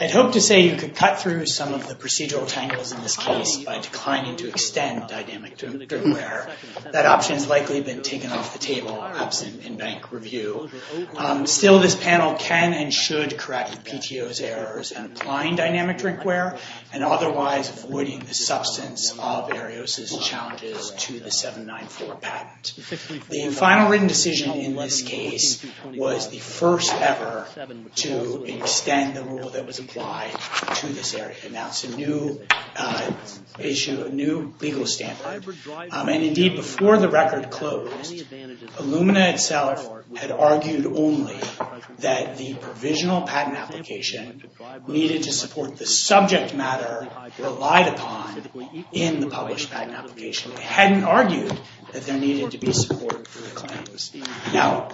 I hope to say you could cut through some of the procedural tangles in this case by declining to extend dynamic drug wear. That option has likely been taken off the table, absent in bank review. Still, this panel can and should correct PTO's errors in applying dynamic drink wear, and otherwise avoiding the substance of Ariosa's challenges to the 794 patent. The final written decision in this case was the first ever to extend the rule that was applied to this area. Now it's a new issue, a new legal standard. And indeed, before the record closed, Illumina itself had argued only that the provisional patent application needed to support the subject matter relied upon in the published patent application. They hadn't argued that there needed to be support for the claims. Now,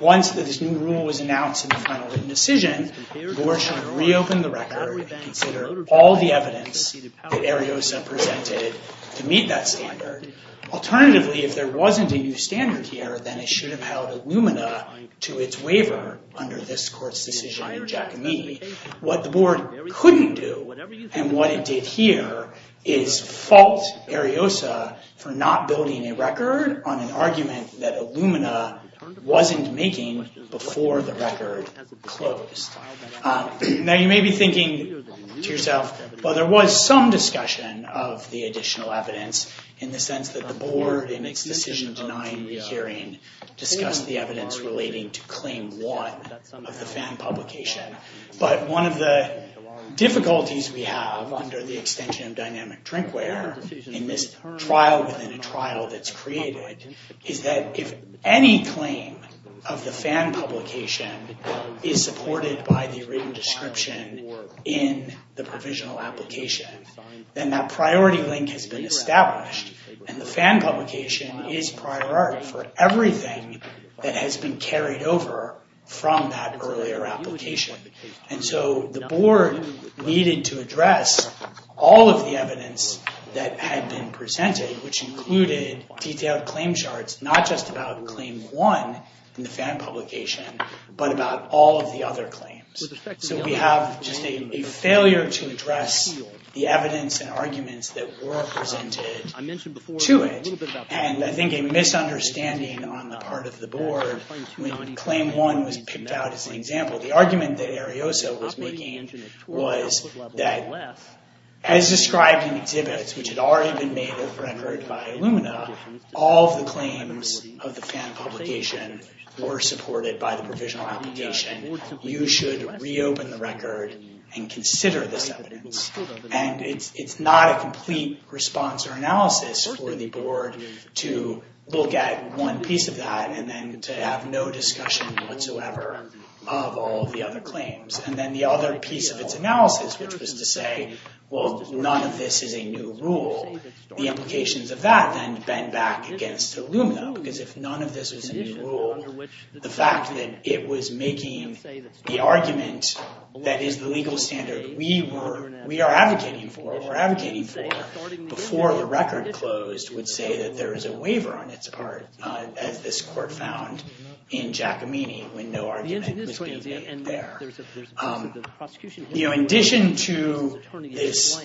once this new rule was announced in the final written decision, the board should reopen the record and consider all the evidence that Ariosa presented to meet that standard. Alternatively, if there wasn't a new standard here, then it should have held Illumina to its waiver under this court's decision in Giacomini. What the board couldn't do, and what it did here, is fault Ariosa for not building a record on an argument that Illumina wasn't making before the record closed. Now, you may be thinking to yourself, well, there was some discussion of the additional evidence in the sense that the board, in its decision-denying hearing, discussed the evidence relating to claim one of the FAN publication. But one of the difficulties we have under the extension of dynamic drinkware in this trial within a trial that's created is that if any claim of the FAN publication is supported by the written description in the provisional application, then that priority link has been established. And the FAN publication is priority for everything that has been carried over from that earlier application. And so the board needed to address all of the evidence that had been presented, which included detailed claim charts, not just about claim one in the FAN publication, but about all of the other claims. So we have just a failure to address the evidence and arguments that were presented to it. And I think a misunderstanding on the part of the board when claim one was picked out as an example, the argument that Arioso was making was that as described in exhibits, which had already been made and rendered by Illumina, all of the claims of the FAN publication were supported by the provisional application. You should reopen the record and consider this evidence. And it's not a complete response or analysis for the board to look at one piece of that and then to have no discussion whatsoever of all of the other claims. And then the other piece of its analysis, which was to say, well, none of this is a new rule. The implications of that then bend back against Illumina, because if none of this was a new rule, the fact that it was making the argument that is the legal standard we are advocating for, or were advocating for, before the record closed would say that there is a waiver on its part, as this court found in Giacomini, when no argument was being made there. In addition to this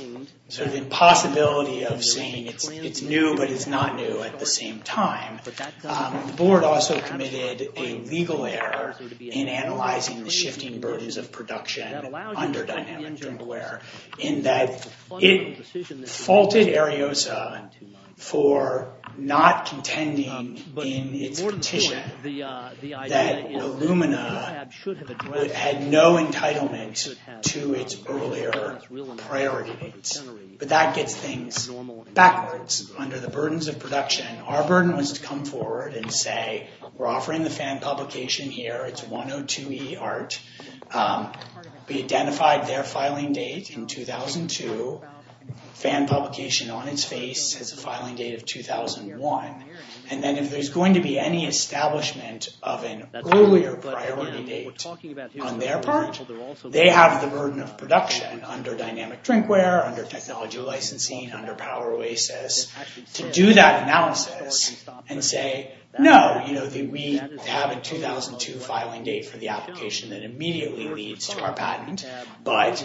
impossibility of saying it's new, but it's not new at the same time, the board also committed a legal error in analyzing the shifting burdens of production under Dynamic Dribbleware, in that it faulted Ariosa for not contending in its petition that Illumina had no entitlement to its earlier priorities. But that gets things backwards. Under the burdens of production, our burden was to come forward and say, we're offering the fan publication here, it's 102e art, we identified their filing date in 2002, fan publication on its face has a filing date of 2001, and then if there's going to be any establishment of an earlier priority date on their part, they have the burden of production under Dynamic Drinkware, under Technology Licensing, under Power Oasis, to do that analysis and say, no, we have a 2002 filing date for the application that immediately leads to our patent, but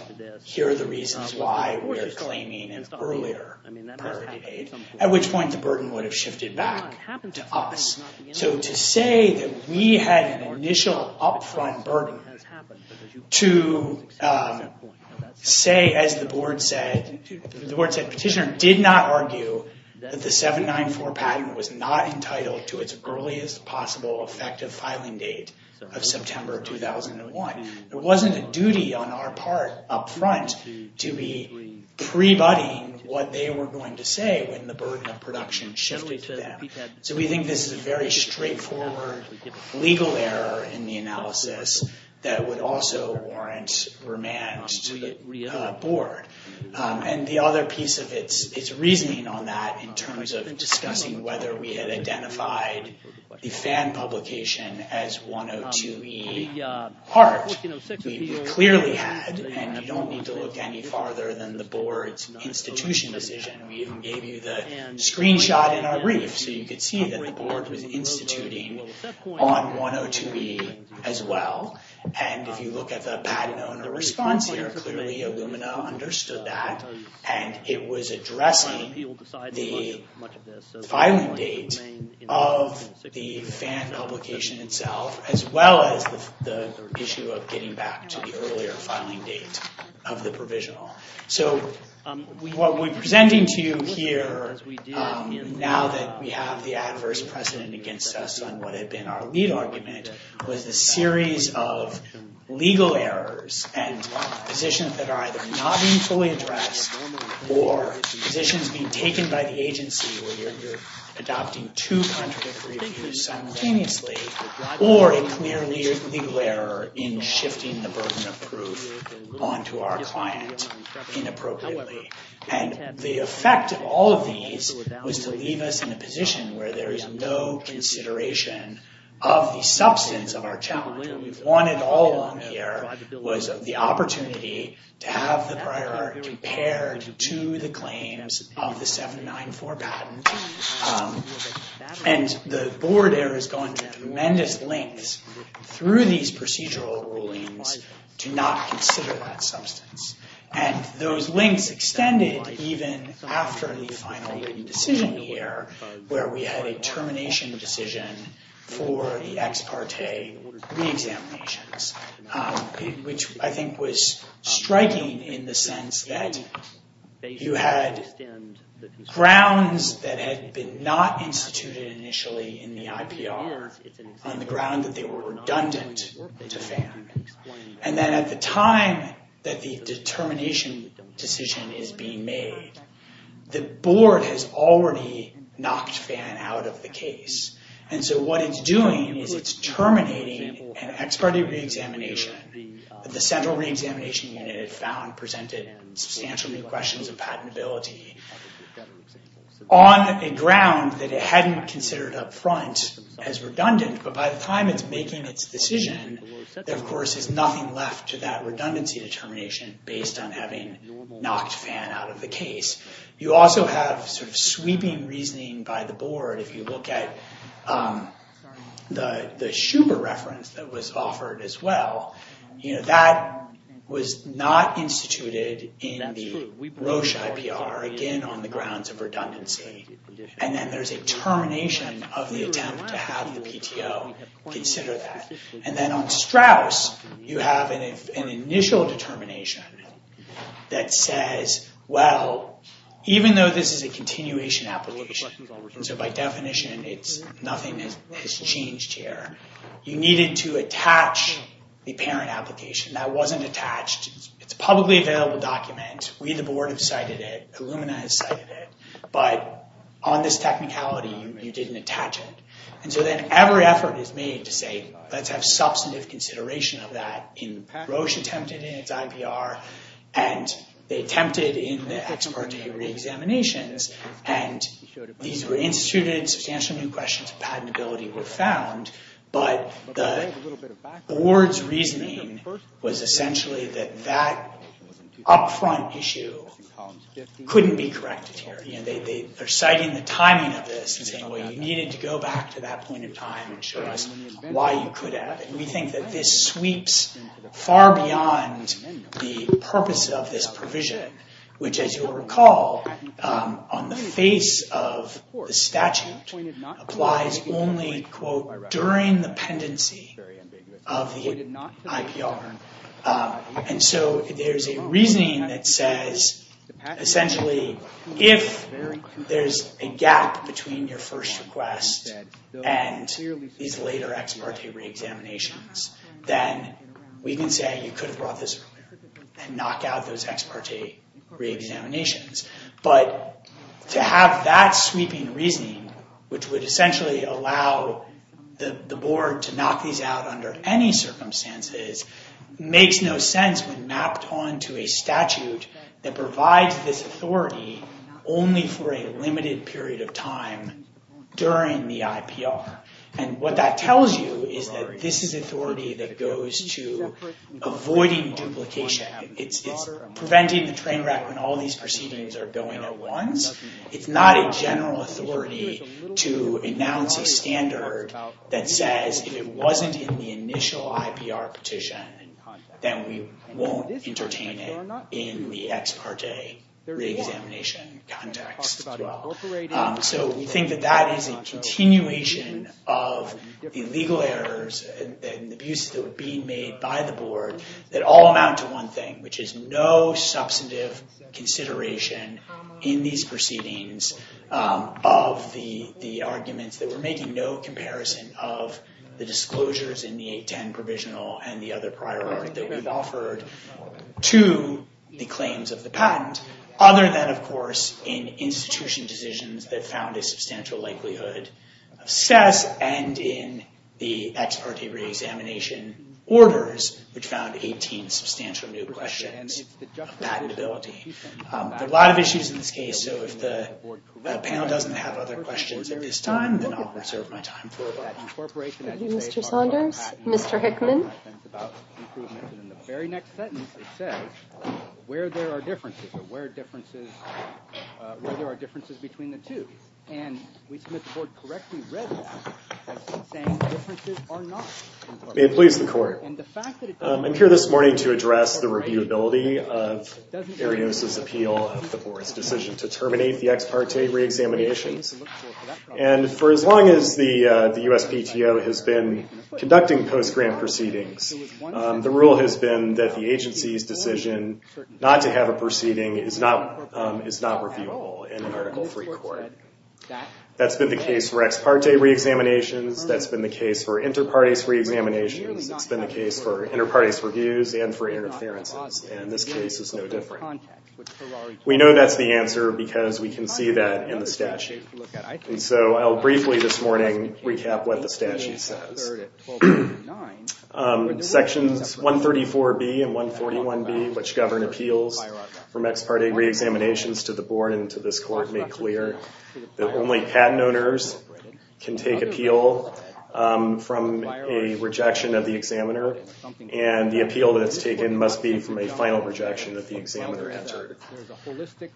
here are the reasons why we're claiming an earlier priority date, at which point the burden would have shifted back to us. So to say that we had an initial upfront burden to say, as the board said, petitioner did not argue that the 794 patent was not entitled to its earliest possible effective filing date of September 2001. There wasn't a duty on our part up front to be pre-budding what they were going to say when the burden of production shifted them. So we think this is a very straightforward legal error in the analysis that would also warrant remand to the board. And the other piece of it is reasoning on that in terms of discussing whether we had identified the FAN publication as 102E part. We clearly had, and you don't need to look any farther than the board's institution decision. We even gave you the screenshot in our brief so you could see that the board was instituting on 102E as well. And if you look at the Patent Owner Response here, clearly Illumina understood that and it was addressing the filing date of the FAN publication itself as well as the issue of getting back to the earlier filing date of the provisional. So what we're presenting to you here now that we have the adverse precedent against us on what had been our lead argument was the series of legal errors and positions that are either not being fully addressed or positions being taken by the agency where you're adopting two contradictory views simultaneously or a clear legal error in shifting the burden of proof onto our client inappropriately. And the effect of all of these was to leave us in a position where there is no consideration of the substance of our challenge. What we've wanted all along here was the opportunity to have the prior art compared to the claims of the 794 patent. And the board there has gone to tremendous lengths through these procedural rulings to not consider that substance. And those links extended even after the final decision here where we had a termination decision for the ex parte re-examinations. Which I think was striking in the sense that you had grounds that had been not instituted initially in the IPR on the ground that they were redundant to FAN. And then at the time that the determination decision is being made, the board has already knocked FAN out of the case. And so what it's doing is it's terminating an ex parte re-examination that the central re-examination unit had found presented substantial new questions of patentability on a ground that it hadn't considered up front as redundant. But by the time it's making its decision, there of course is nothing left to that redundancy determination based on having knocked FAN out of the case. You also have sort of sweeping reasoning by the board if you look at the Schuber reference that was offered as well. That was not instituted in the Roche IPR, again on the grounds of redundancy. And then there's a termination of the attempt to have the PTO consider that. And then on Strauss, you have an initial determination that says, well, even though this is a continuation application, so by definition, nothing has changed here. You needed to attach the parent application. That wasn't attached. It's a publicly available document. We, the board, have cited it. Illumina has cited it. But on this technicality, you didn't attach it. And so then every effort is made to say, let's have substantive consideration of that in Roche attempted in its IPR. And they attempted in the ex parte re-examinations. And these were instituted. Substantial new questions of patentability were found. But the board's reasoning was essentially that that upfront issue couldn't be corrected here. They're citing the timing of this and saying, well, you needed to go back to that point in time and show us why you could have. We think that this sweeps far beyond the purpose of this provision, which, as you'll recall, on the face of the statute, applies only, quote, during the pendency of the IPR. And so there's a reasoning that says, essentially, if there's a gap between your first request and these later ex parte re-examinations, then we can say you could have brought this earlier and knock out those ex parte re-examinations. But to have that sweeping reasoning, which would essentially allow the board to knock these out under any circumstances, makes no sense when mapped onto a statute that provides this authority only for a limited period of time during the IPR. And what that tells you is that this is authority that goes to avoiding duplication. It's preventing the train wreck when all these proceedings are going at once. It's not a general authority to announce a standard that says if it wasn't in the initial IPR petition, then we won't entertain it in the ex parte re-examination context as well. So we think that that is a continuation of the legal errors and the abuses that were being made by the board that all amount to one thing, which is no substantive consideration in these proceedings of the arguments that we're making no comparison of the disclosures in the 810 provisional and the other prior art that we've offered to the claims of the patent, other than, of course, in institution decisions that found a substantial likelihood of cess and in the ex parte re-examination orders, which found 18 substantial new questions of patentability. There are a lot of issues in this case, so if the panel doesn't have other questions at this time, then I'll reserve my time for them. Thank you, Mr. Saunders. Mr. Hickman. In the very next sentence, it says where there are differences, or where there are differences between the two. And we submit the board correctly read that as saying differences are not. May it please the court. I'm here this morning to address the reviewability of Arios' appeal of the board's decision to terminate the ex parte re-examinations. And for as long as the USPTO has been conducting post-grant proceedings, the rule has been that the agency's decision not to have a proceeding is not reviewable in an article free court. That's been the case for ex parte re-examinations. That's been the case for inter partes re-examinations. It's been the case for inter partes reviews and for interferences. And this case is no different. We know that's the answer because we can see that in the statute. And so I'll briefly this morning recap what the statute says. Sections 134B and 141B, which govern appeals from ex parte re-examinations to the board and to this court, make clear that only patent owners can take appeal from a rejection of the examiner. And the appeal that's taken must be from a final rejection that the examiner entered.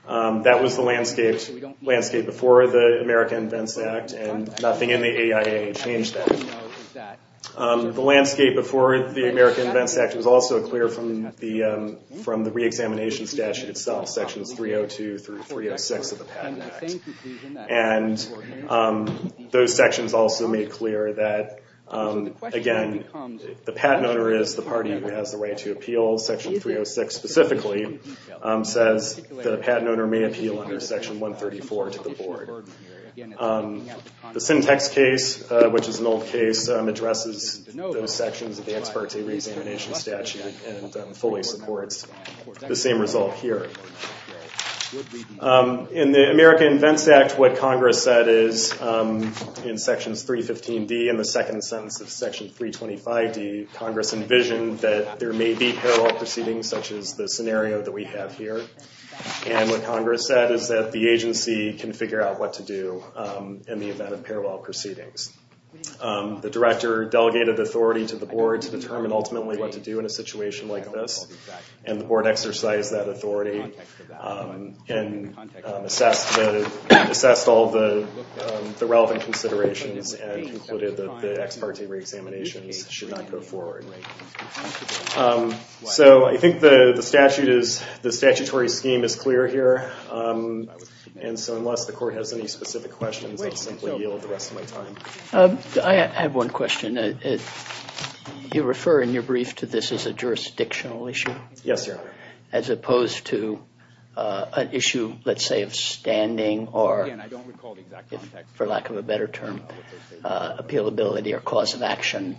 That was the landscape before the America Invents Act. And nothing in the AIA changed that. The landscape before the America Invents Act was also clear from the re-examination statute itself, sections 302 through 306 of the Patent Act. And those sections also made clear that, again, the patent owner is the party who has the right to appeal. Section 306 specifically says that a patent owner may appeal under section 134 to the board. The syntax case, which is an old case, addresses those sections of the ex parte re-examination statute and fully supports the same result here. In the America Invents Act, what Congress said is, in sections 315D and the second sentence of section 325D, Congress envisioned that there may be parallel proceedings, such as the scenario that we have here. And what Congress said is that the agency can figure out what to do in the event of parallel proceedings. The director delegated authority to the board to determine, ultimately, what to do in a situation like this. And the board exercised that authority and assessed all the relevant considerations and concluded that the ex parte re-examinations should not go forward. So I think the statutory scheme is clear here. And so unless the court has any specific questions, I'll simply yield the rest of my time. I have one question. You refer in your brief to this as a jurisdictional issue? Yes, sir. As opposed to an issue, let's say, of standing or, for lack of a better term, appealability or cause of action.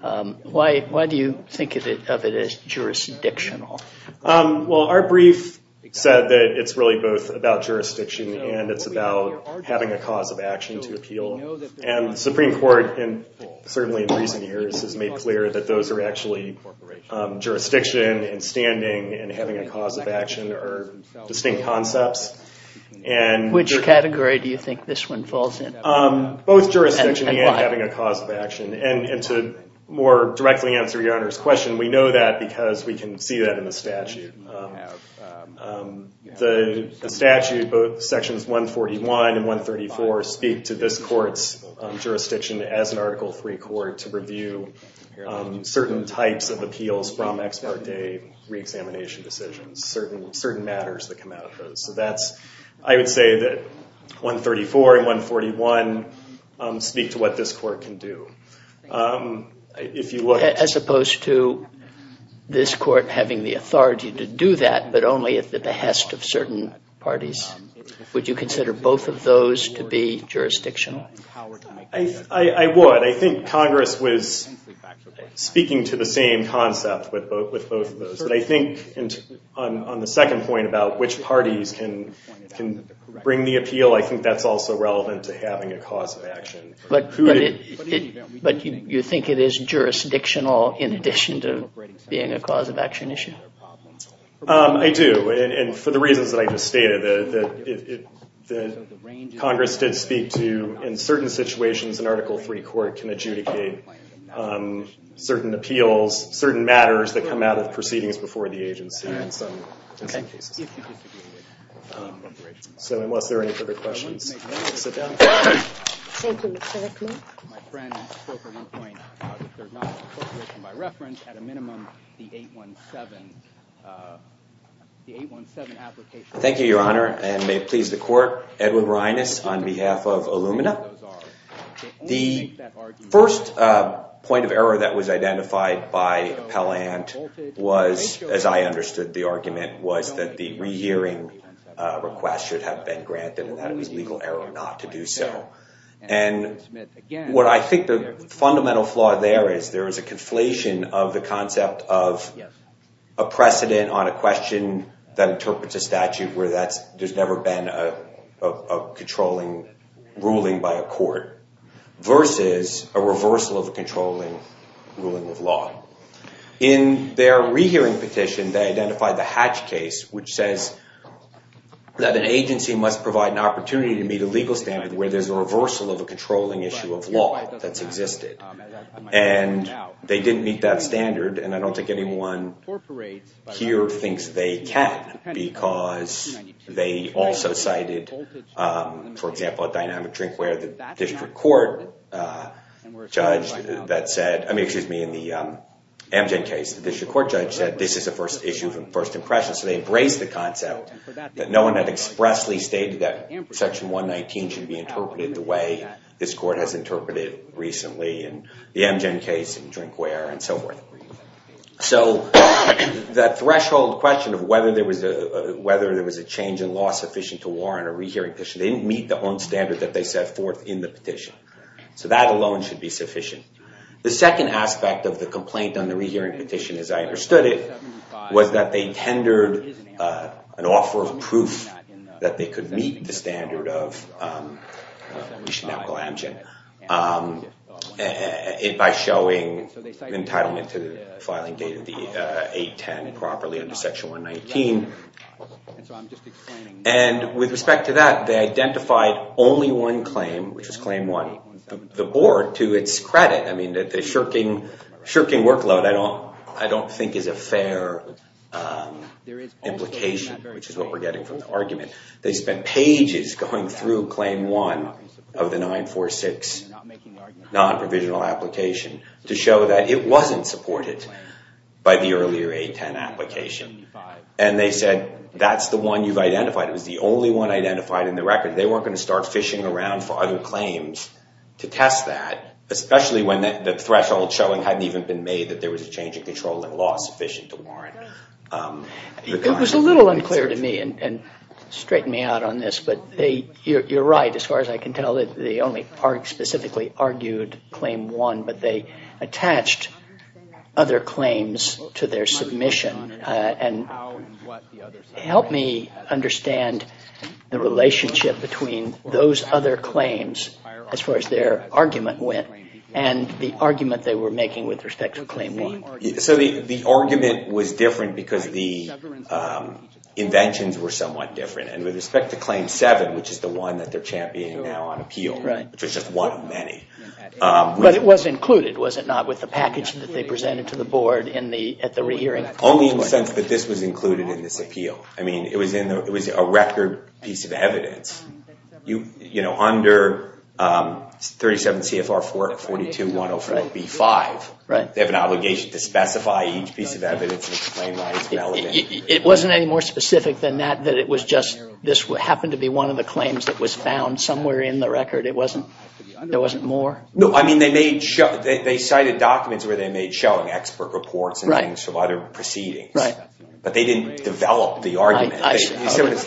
Why do you think of it as jurisdictional? Well, our brief said that it's really both about jurisdiction and it's about having a cause of action to appeal. And the Supreme Court, certainly in recent years, has made clear that those are actually jurisdiction and standing and having a cause of action are distinct concepts. Which category do you think this one falls in? Both jurisdiction and having a cause of action. And to more directly answer your Honor's question, we know that because we can see that in the statute. The statute, both sections 141 and 134, speak to this court's jurisdiction as an Article III court to review certain types of appeals from ex parte re-examination decisions, certain matters that come out of those. So I would say that 134 and 141 speak to what this court can do. If you look to- As opposed to this court having the authority to do that, but only at the behest of certain parties. Would you consider both of those to be jurisdictional? I would. I think Congress was speaking to the same concept with both of those. But I think on the second point about which parties can bring the appeal, I think that's also relevant to having a cause of action. But you think it is jurisdictional in addition to being a cause of action issue? I do. And for the reasons that I just stated, that Congress did speak to, in certain situations, an Article III court can adjudicate certain appeals, certain matters that come out of proceedings before the agency in some cases. So unless there are any further questions, I'll sit down. Thank you, Mr. Hickman. My friend spoke at one point about if there's not an appropriation by reference, at a minimum, the 817 application. Thank you, Your Honor. And may it please the court, Edward Reines on behalf of Illumina. The first point of error that was identified by Appellant was, as I understood the argument, was that the rehearing request should have been granted. And that it was legal error not to do so. And what I think the fundamental flaw there is, there is a conflation of the concept of a precedent on a question that interprets a statute where there's never been a controlling ruling by a court versus a reversal of a controlling ruling of law. In their rehearing petition, they identified the Hatch case, which says that an agency must provide an opportunity to meet a legal standard where there's a reversal of a controlling issue of law that's existed. And they didn't meet that standard. And I don't think anyone here thinks they can because they also cited, for example, a dynamic drink where the district court judge that said, I mean, excuse me, in the Amgen case, the district court judge said, this is a first issue of first impression. So they embraced the concept that no one had expressly stated that Section 119 should be interpreted the way this court has interpreted it recently in the Amgen case and drink where and so forth. So that threshold question of whether there was a change in law sufficient to warrant a rehearing petition, they didn't meet the own standard that they set forth in the petition. So that alone should be sufficient. The second aspect of the complaint on the rehearing petition, as I understood it, was that they tendered an offer of proof that they could meet the standard of the Amgen by showing entitlement to the filing date of the 810 properly under Section 119. And with respect to that, they identified only one claim, which was claim one, the board, to its credit. I mean, the shirking workload, I don't think is a fair implication, which is what we're getting from the argument. They spent pages going through claim one of the 946 non-provisional application to show that it wasn't supported by the earlier 810 application. And they said, that's the one you've identified. It was the only one identified in the record. They weren't going to start fishing around for other claims to test that, especially when the threshold showing hadn't even been made that there was a change in controlling law sufficient to warrant the kind of evidence that they received. It was a little unclear to me, and straighten me out on this, but you're right, as far as I can tell. They only specifically argued claim one, but they attached other claims to their submission. And help me understand the relationship between those other claims, as far as their argument went, and the argument they were making with respect to claim one. So the argument was different because the inventions were somewhat different. And with respect to claim seven, which is the one that they're championing now on appeal, which was just one of many. But it was included, was it not, with the package that they presented to the board at the re-hearing? Only in the sense that this was included in this appeal. I mean, it was a record piece of evidence. You know, under 37 CFR 42-104-B5, they have an obligation to specify each piece of evidence and explain why it's relevant. It wasn't any more specific than that, that it was just this happened to be one of the claims that was found somewhere in the record. It wasn't, there wasn't more? No, I mean, they cited documents where they made showing expert reports and things from other proceedings. But they didn't develop the argument.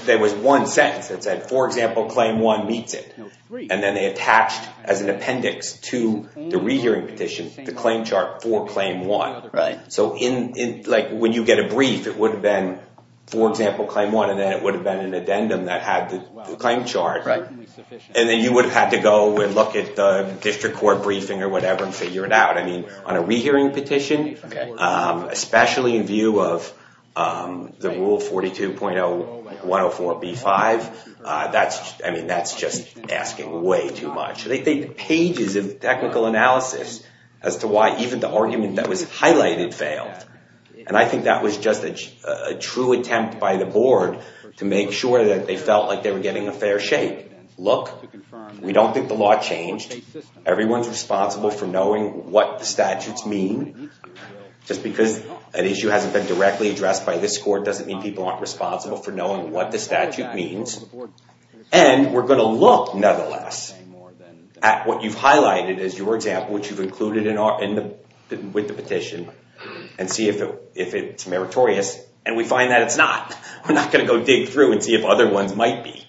There was one sentence that said, for example, claim one meets it. And then they attached as an appendix to the re-hearing petition the claim chart for claim one. So when you get a brief, it would have been, for example, claim one. And then it would have been an addendum that had the claim chart. And then you would have had to go and look at the district court briefing or whatever and figure it out. I mean, on a re-hearing petition, especially in view of the rule 42.104B5, I mean, that's just asking way too much. They did pages of technical analysis as to why even the argument that was highlighted failed. And I think that was just a true attempt by the board to make sure that they felt like they were getting a fair shake. Look, we don't think the law changed. Everyone's responsible for knowing what the statutes mean. Just because an issue hasn't been directly addressed by this court doesn't mean people aren't responsible for knowing what the statute means. And we're going to look, nonetheless, at what you've highlighted as your example, which you've included with the petition, and see if it's meritorious. And we find that it's not. We're not going to go dig through and see if other ones might be.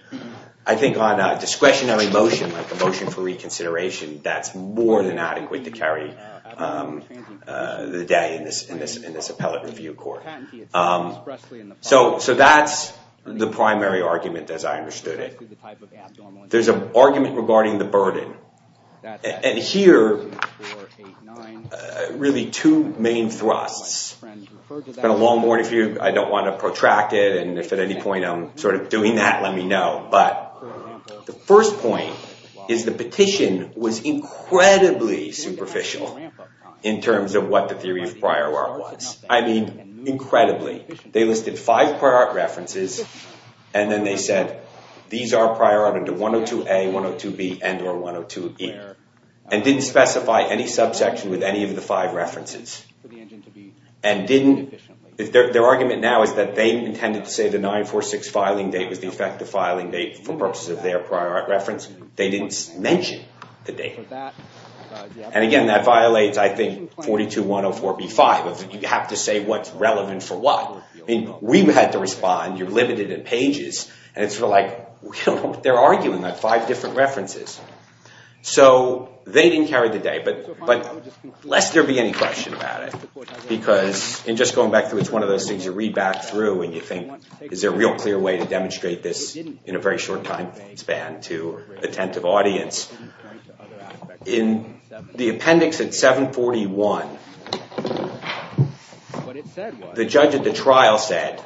I think on a discretionary motion, like a motion for reconsideration, that's more than adequate to carry the day in this appellate review court. So that's the primary argument, as I understood it. There's an argument regarding the burden. And here, really, two main thrusts. It's been a long morning for you. I don't want to protract it. And if at any point I'm sort of doing that, let me know. But the first point is the petition was incredibly superficial in terms of what the theory of prior art was. I mean, incredibly. They listed five prior art references. And then they said, these are prior art under 102A, 102B, and or 102E. And didn't specify any subsection with any of the five references. And their argument now is that they intended to say the 946 filing date was the effective filing date for purposes of their prior art reference. They didn't mention the date. And again, that violates, I think, 42-104-B-5. You have to say what's relevant for what. I mean, we've had to respond. You're limited in pages. And it's sort of like, they're arguing that five different references. So they didn't carry the day, but lest there be any question about it. Because in just going back through, it's one of those things you read back through and you think, is there a real clear way to demonstrate this in a very short time span to attentive audience? In the appendix at 741, the judge at the trial said,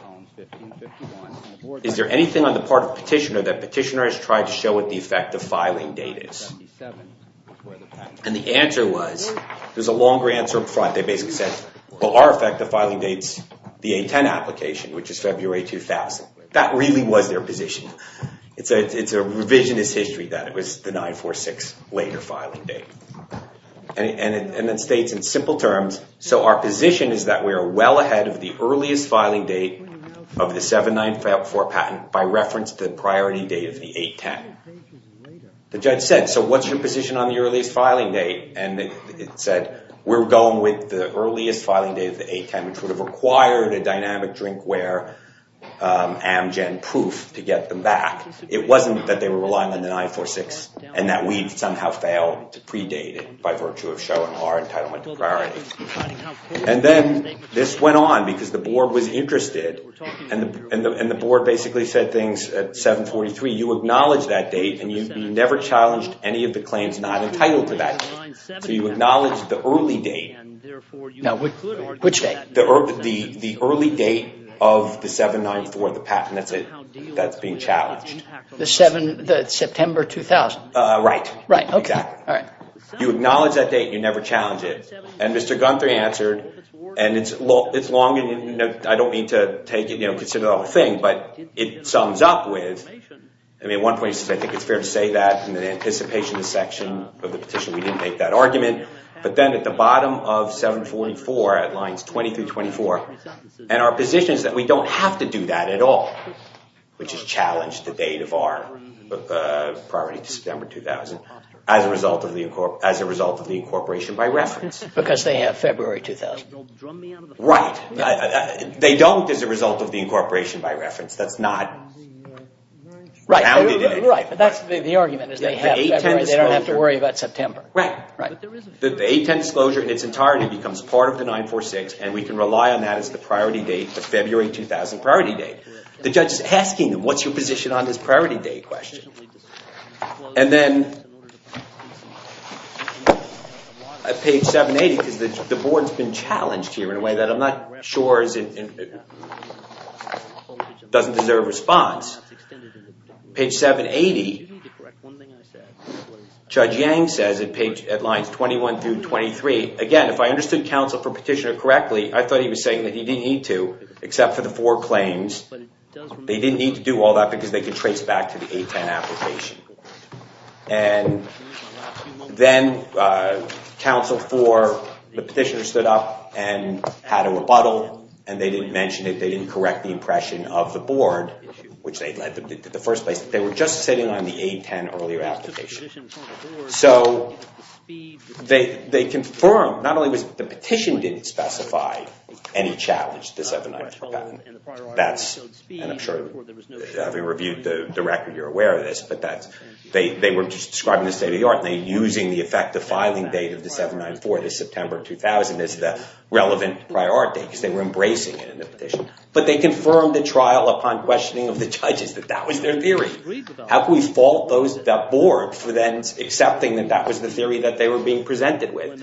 is there anything on the part of petitioner that petitioner has tried to show what the effective filing date is? And the answer was, there's a longer answer up front. They basically said, well, our effective filing date's the 8-10 application, which is February 2000. That really was their position. It's a revisionist history that it was the 9-4-6 later filing date. And it states in simple terms, so our position is that we are well ahead of the earliest filing date of the 794 patent by reference to the priority date of the 8-10. The judge said, so what's your position on the earliest filing date? And it said, we're going with the earliest filing date of the 8-10, which would have required a dynamic drink where Amgen proof to get them back. It wasn't that they were relying on the 9-4-6 and that we'd somehow failed to predate it by virtue of showing our entitlement to priority. And then this went on, because the board was interested. And the board basically said things at 743, you acknowledge that date, and you never challenged any of the claims not entitled to that date. So you acknowledged the early date. Now, which date? The early date of the 794, the patent that's being challenged. The September 2000? Right. Right, OK. All right. You acknowledge that date, and you never challenge it. And Mr. Gunther answered, and it's long, I don't mean to take it, consider it a whole thing, but it sums up with, I mean, at one point he said, I think it's fair to say that in anticipation of the section of the petition, we didn't make that argument. But then at the bottom of 744, at lines 20 through 24, and our position is that we don't have to do that at all, which is challenge the date of our priority to September 2000 as a result of the incorporation by reference. Because they have February 2000. Right. They don't as a result of the incorporation by reference. That's not counted in any way. Right, but that's the argument, is they have February, they don't have to worry about September. Right. The 810 disclosure in its entirety becomes part of the 946, and we can rely on that as the priority date, the February 2000 priority date. The judge is asking them, what's your position on this priority date question? And then at page 780, because the board's been challenged here in a way that I'm not sure doesn't deserve response. Page 780, Judge Yang says at lines 21 through 23, again, if I understood counsel for petitioner correctly, I thought he was saying that he didn't need to, except for the four claims. They didn't need to do all that because they could trace back to the 810 application. And then counsel for the petitioner stood up and had a rebuttal, and they didn't mention it. They didn't correct the impression of the board, which the first place, they were just sitting on the 810 earlier application. So they confirmed, not only was the petition didn't specify any challenge to the 794 patent, and I'm sure having reviewed the record, you're aware of this, but they were just describing the state of the art, and they were using the effective filing date of the 794, the September 2000, as the relevant priority because they were embracing it in the petition. But they confirmed the trial upon questioning of the judges that that was their theory. How could we fault that board for then accepting that that was the theory that they were being presented with?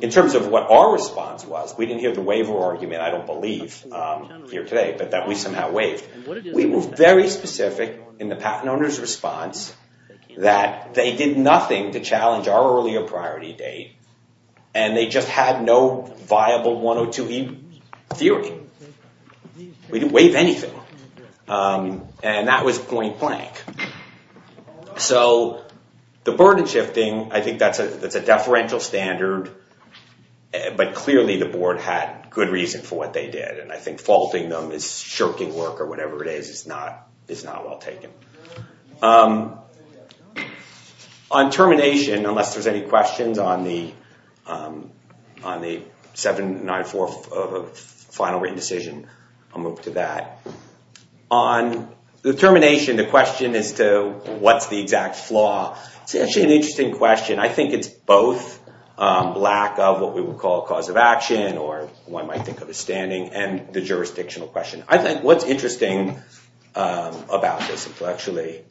In terms of what our response was, we didn't hear the waiver argument, I don't believe, here today, but that we somehow waived. We were very specific in the patent owner's response that they did nothing to challenge our earlier priority date, and they just had no viable 102E theory. We didn't waive anything, and that was point blank. So the burden shifting, I think that's a deferential standard, but clearly the board had good reason for what they did, and I think faulting them is shirking work or whatever it is is not well taken. On termination, unless there's any questions on the 794 of a final written decision, I'll move to that. On the termination, the question as to what's the exact flaw, it's actually an interesting question. I think it's both lack of what we would call a cause of action or one might think of as standing and the jurisdictional question. I think what's interesting about this, actually,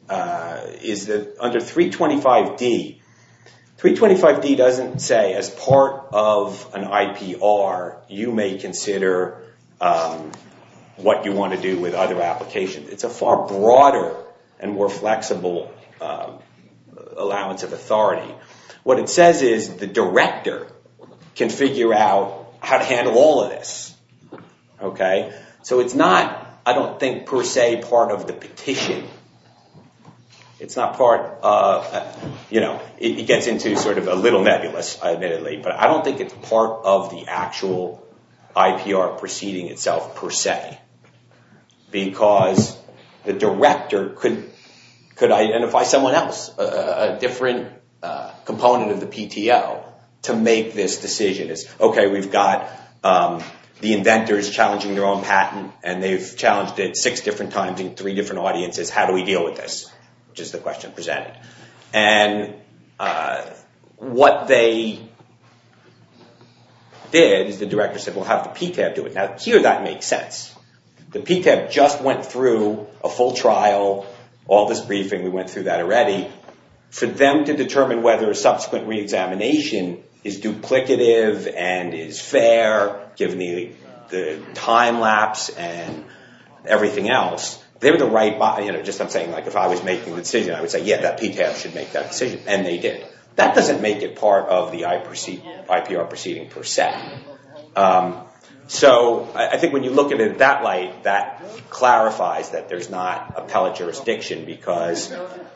is that under 325D, 325D doesn't say, as part of an IPR, you may consider what you want to do with other applications. It's a far broader and more flexible allowance of authority. What it says is the director can figure out how to handle all of this. So it's not, I don't think, per se, part of the petition. It gets into a little nebulous, admittedly, but I don't think it's part of the actual IPR proceeding itself, per se, because the director could identify someone else, a different component of the PTO, to make this decision. OK, we've got the inventors challenging their own patent, and they've challenged it six different times in three different audiences. How do we deal with this, which is the question presented. And what they did is the director said, we'll have the PTAB do it. Now, here, that makes sense. The PTAB just went through a full trial, all this briefing. We went through that already. For them to determine whether a subsequent re-examination is duplicative and is fair, given the time lapse and everything else, they were the right, you know, just I'm saying if I was making the decision, I would say, yeah, that PTAB should make that decision. And they did. That doesn't make it part of the IPR proceeding, per se. So I think when you look at it in that light, that clarifies that there's not appellate jurisdiction, because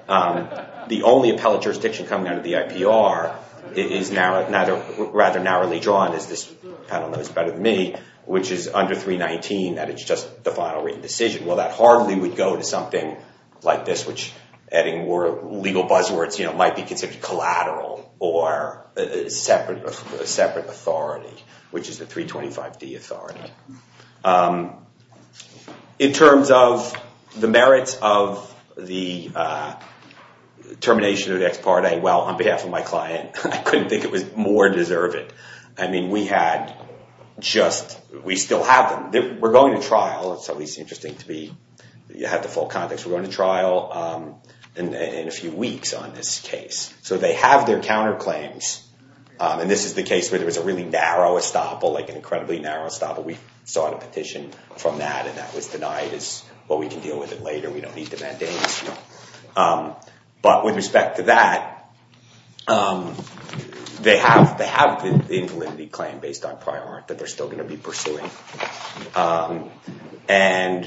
the only appellate jurisdiction coming out of the IPR is rather narrowly drawn, as this panel knows better than me, which is under 319, that it's just the final written decision. Well, that hardly would go to something like this, which adding legal buzzwords, you know, might be considered collateral or a separate authority, which is the 325D authority. In terms of the merits of the termination of the ex parte, well, on behalf of my client, I couldn't think it was more deserved. I mean, we had just, we still have them. We're going to trial. It's at least interesting to me that you are going to trial in a few weeks on this case. So they have their counterclaims. And this is the case where there was a really narrow estoppel, like an incredibly narrow estoppel. We sought a petition from that. And that was denied as, well, we can deal with it later. We don't need the mandates. But with respect to that, they have the invalidity claim based on prior art that they're still going to be pursuing. And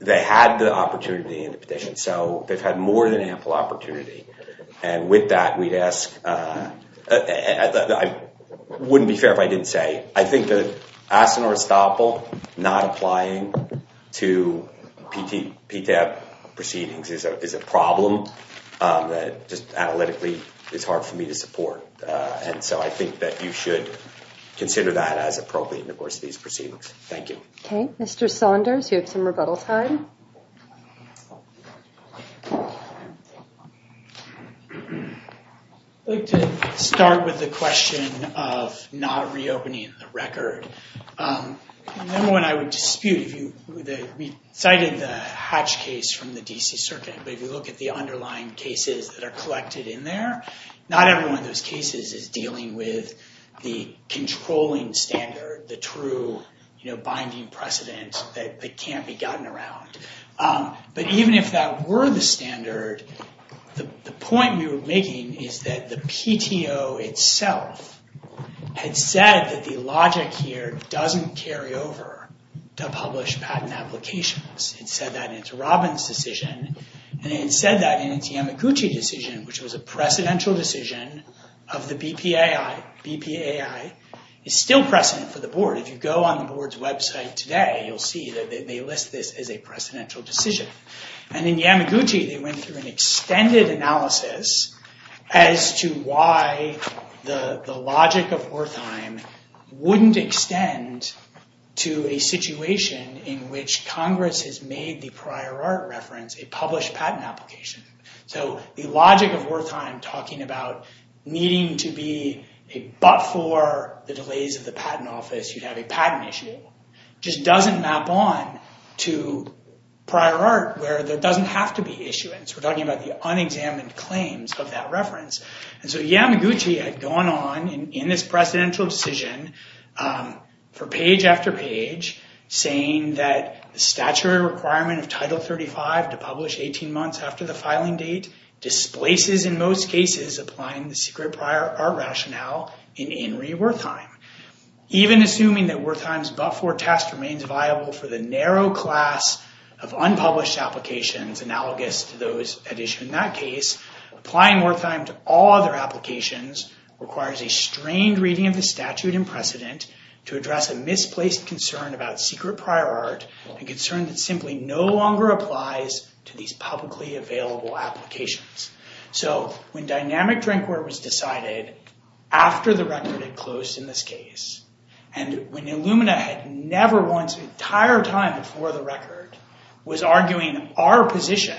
they had the opportunity in the petition. So they've had more than ample opportunity. And with that, we'd ask, it wouldn't be fair if I didn't say, I think that asking for estoppel, not applying to PTAP proceedings is a problem that just analytically it's hard for me to support. And so I think that you should consider that as appropriate in the course of these proceedings. Thank you. OK. Mr. Saunders, you have some rebuttal time. I'd like to start with the question of not reopening the record. The one I would dispute, we cited the Hatch case from the DC Circuit. But if you look at the underlying cases that are collected in there, not every one of those cases is dealing with the controlling standard, the true binding precedent that can't be gotten around. But even if that were the standard, the point we were making is that the PTO itself had said that the logic here doesn't carry over to publish patent applications. It said that in its Robbins decision. And it said that in its Yamaguchi decision, which was a precedential decision of the BPAI. BPAI is still precedent for the board. If you go on the board's website today, you'll see that they list this as a precedential decision. And in Yamaguchi, they went through an extended analysis as to why the logic of Wertheim wouldn't extend to a situation in which Congress has made the prior art reference a published patent application. So the logic of Wertheim talking about needing to be a but for the delays of the patent office, you'd have a patent issue, just doesn't map on to prior art where there doesn't have to be issuance. We're talking about the unexamined claims of that reference. And so Yamaguchi had gone on in this precedential decision for page after page saying that the statutory requirement of Title 35 to publish 18 months after the filing date displaces in most cases applying the secret prior art rationale in Henry Wertheim. Even assuming that Wertheim's but for test remains viable for the narrow class of unpublished applications analogous to those at issue in that case, applying Wertheim to all other applications requires a strained reading of the statute and precedent to address a misplaced concern about secret prior art and concern that simply no longer applies to these publicly available applications. So when dynamic drinkware was decided after the record had closed in this case, and when Illumina had never once, the entire time before the record, was arguing our position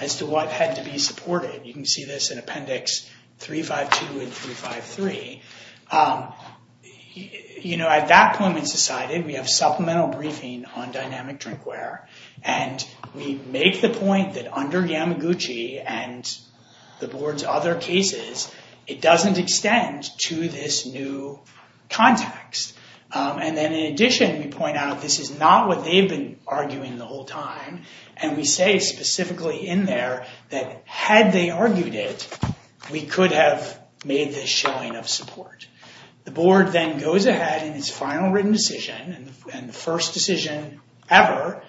as to what had to be supported, you can see this in appendix 352 and 353, at that point it's decided we have supplemental briefing on dynamic drinkware. And we make the point that under Yamaguchi and the board's other cases, it doesn't extend to this new context. And then in addition, we point out this is not what they've been arguing the whole time. And we say specifically in there that had they argued it, we could have made this showing of support. The board then goes ahead in its final written decision. And the first decision ever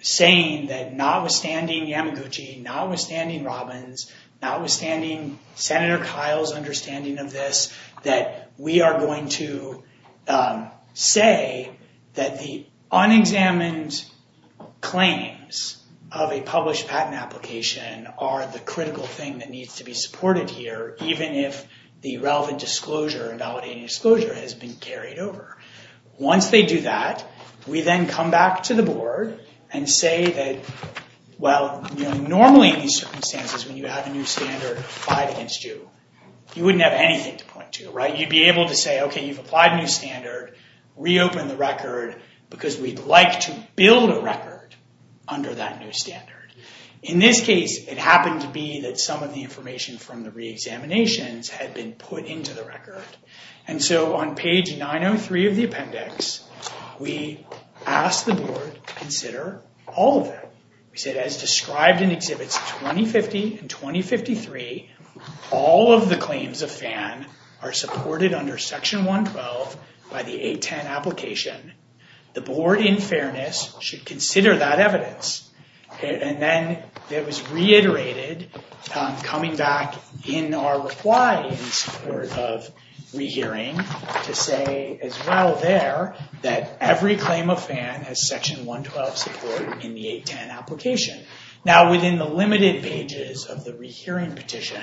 saying that notwithstanding Yamaguchi, notwithstanding Robbins, notwithstanding Senator Kyle's understanding of this, that we are going to say that the unexamined claims of a published patent application are the critical thing that needs to be supported here, even if the relevant disclosure and validating disclosure has been carried over. Once they do that, we then come back to the board and say that, well, normally in these circumstances when you have a new standard applied against you, you wouldn't have anything to point to. You'd be able to say, OK, you've applied a new standard, reopen the record, because we'd like to build a record under that new standard. In this case, it happened to be that some of the information from the reexaminations had been put into the record. And so on page 903 of the appendix, we asked the board to consider all of that. We said, as described in Exhibits 2050 and 2053, all of the claims of FAN are supported under Section 112 by the 810 application. The board, in fairness, should consider that evidence. And then it was reiterated, coming back in our reply in support of rehearing, to say, as well there, that every claim of FAN has Section 112 support in the 810 application. Now, within the limited pages of the rehearing petition,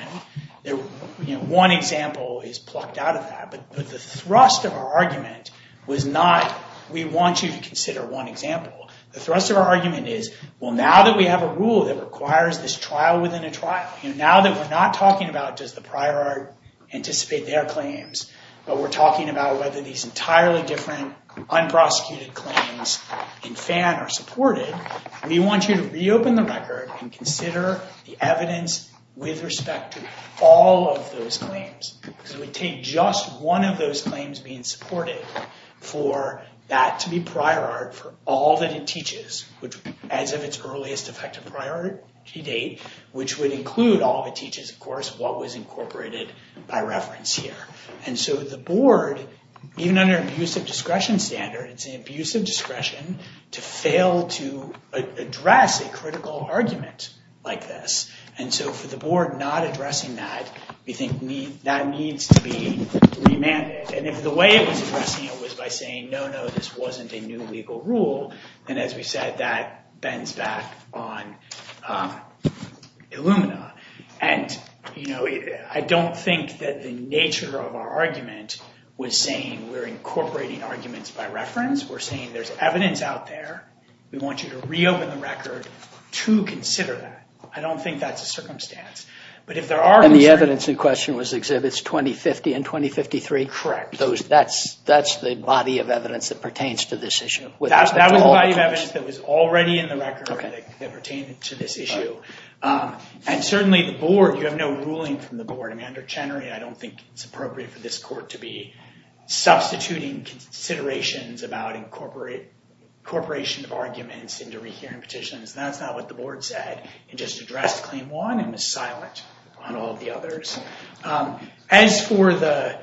one example is plucked out of that. But the thrust of our argument was not, we want you to consider one example. The thrust of our argument is, well, now that we have a rule that requires this trial within a trial, now that we're not talking about, does the prior art anticipate their claims, but we're talking about whether these entirely different unprosecuted claims in FAN are supported, we want you to reopen the record and consider the evidence with respect to all of those claims. Because it would take just one of those claims being supported for that to be prior art for all that it teaches, as of its earliest effective priority date, which would include all of it as incorporated by reference here. And so the board, even under an abusive discretion standard, it's an abusive discretion to fail to address a critical argument like this. And so for the board not addressing that, we think that needs to be remanded. And if the way it was addressing it was by saying, no, no, this wasn't a new legal rule, then, as we said, that bends back on Illumina. And I don't think that the nature of our argument was saying we're incorporating arguments by reference. We're saying there's evidence out there. We want you to reopen the record to consider that. I don't think that's a circumstance. But if there are any evidence in question was exhibits 2050 and 2053? Correct. That's the body of evidence that pertains to this issue. That was the body of evidence that was already in the record that pertained to this issue. And certainly, the board, you have no ruling from the board. I mean, under Chenery, I don't think it's appropriate for this court to be substituting considerations about incorporation of arguments into rehearing petitions. That's not what the board said. It just addressed Claim 1 and was silent on all the others. As for the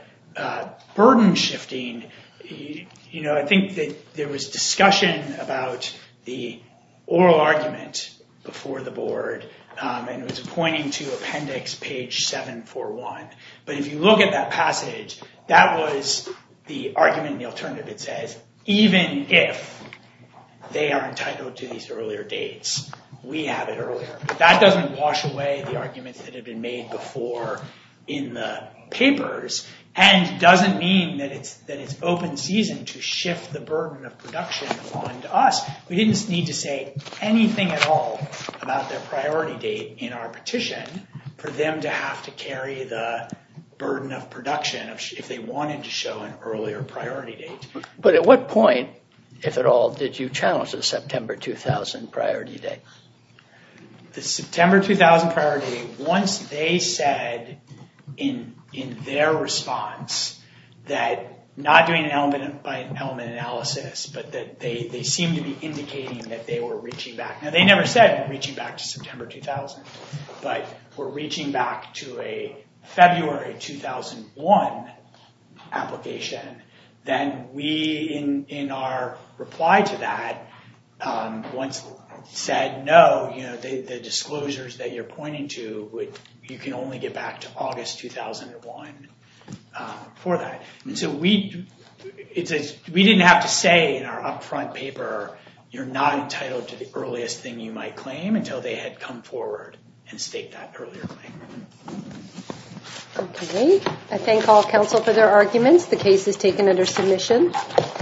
burden shifting, I think that there was discussion about the oral argument before the board. And it was pointing to appendix page 741. But if you look at that passage, that was the argument and the alternative. It says, even if they are entitled to these earlier dates, we have it earlier. That doesn't wash away the arguments that have been made before in the papers and doesn't mean that it's open season to shift the burden of production onto us. We didn't need to say anything at all about their priority date in our petition for them to have to carry the burden of production if they wanted to show an earlier priority date. But at what point, if at all, did you challenge the September 2000 priority date? The September 2000 priority date, once they said in their response that not doing an element analysis, but that they seemed to be indicating that they were reaching back. Now, they never said reaching back to September 2000. But we're reaching back to a February 2001 application. Then we, in our reply to that, once said, no, the disclosures that you're pointing to, you can only get back to August 2001 for that. And so we didn't have to say in our upfront paper, you're not entitled to the earliest thing you might claim until they had come forward and staked that earlier claim. OK. I thank all counsel for their arguments. The case is taken under submission.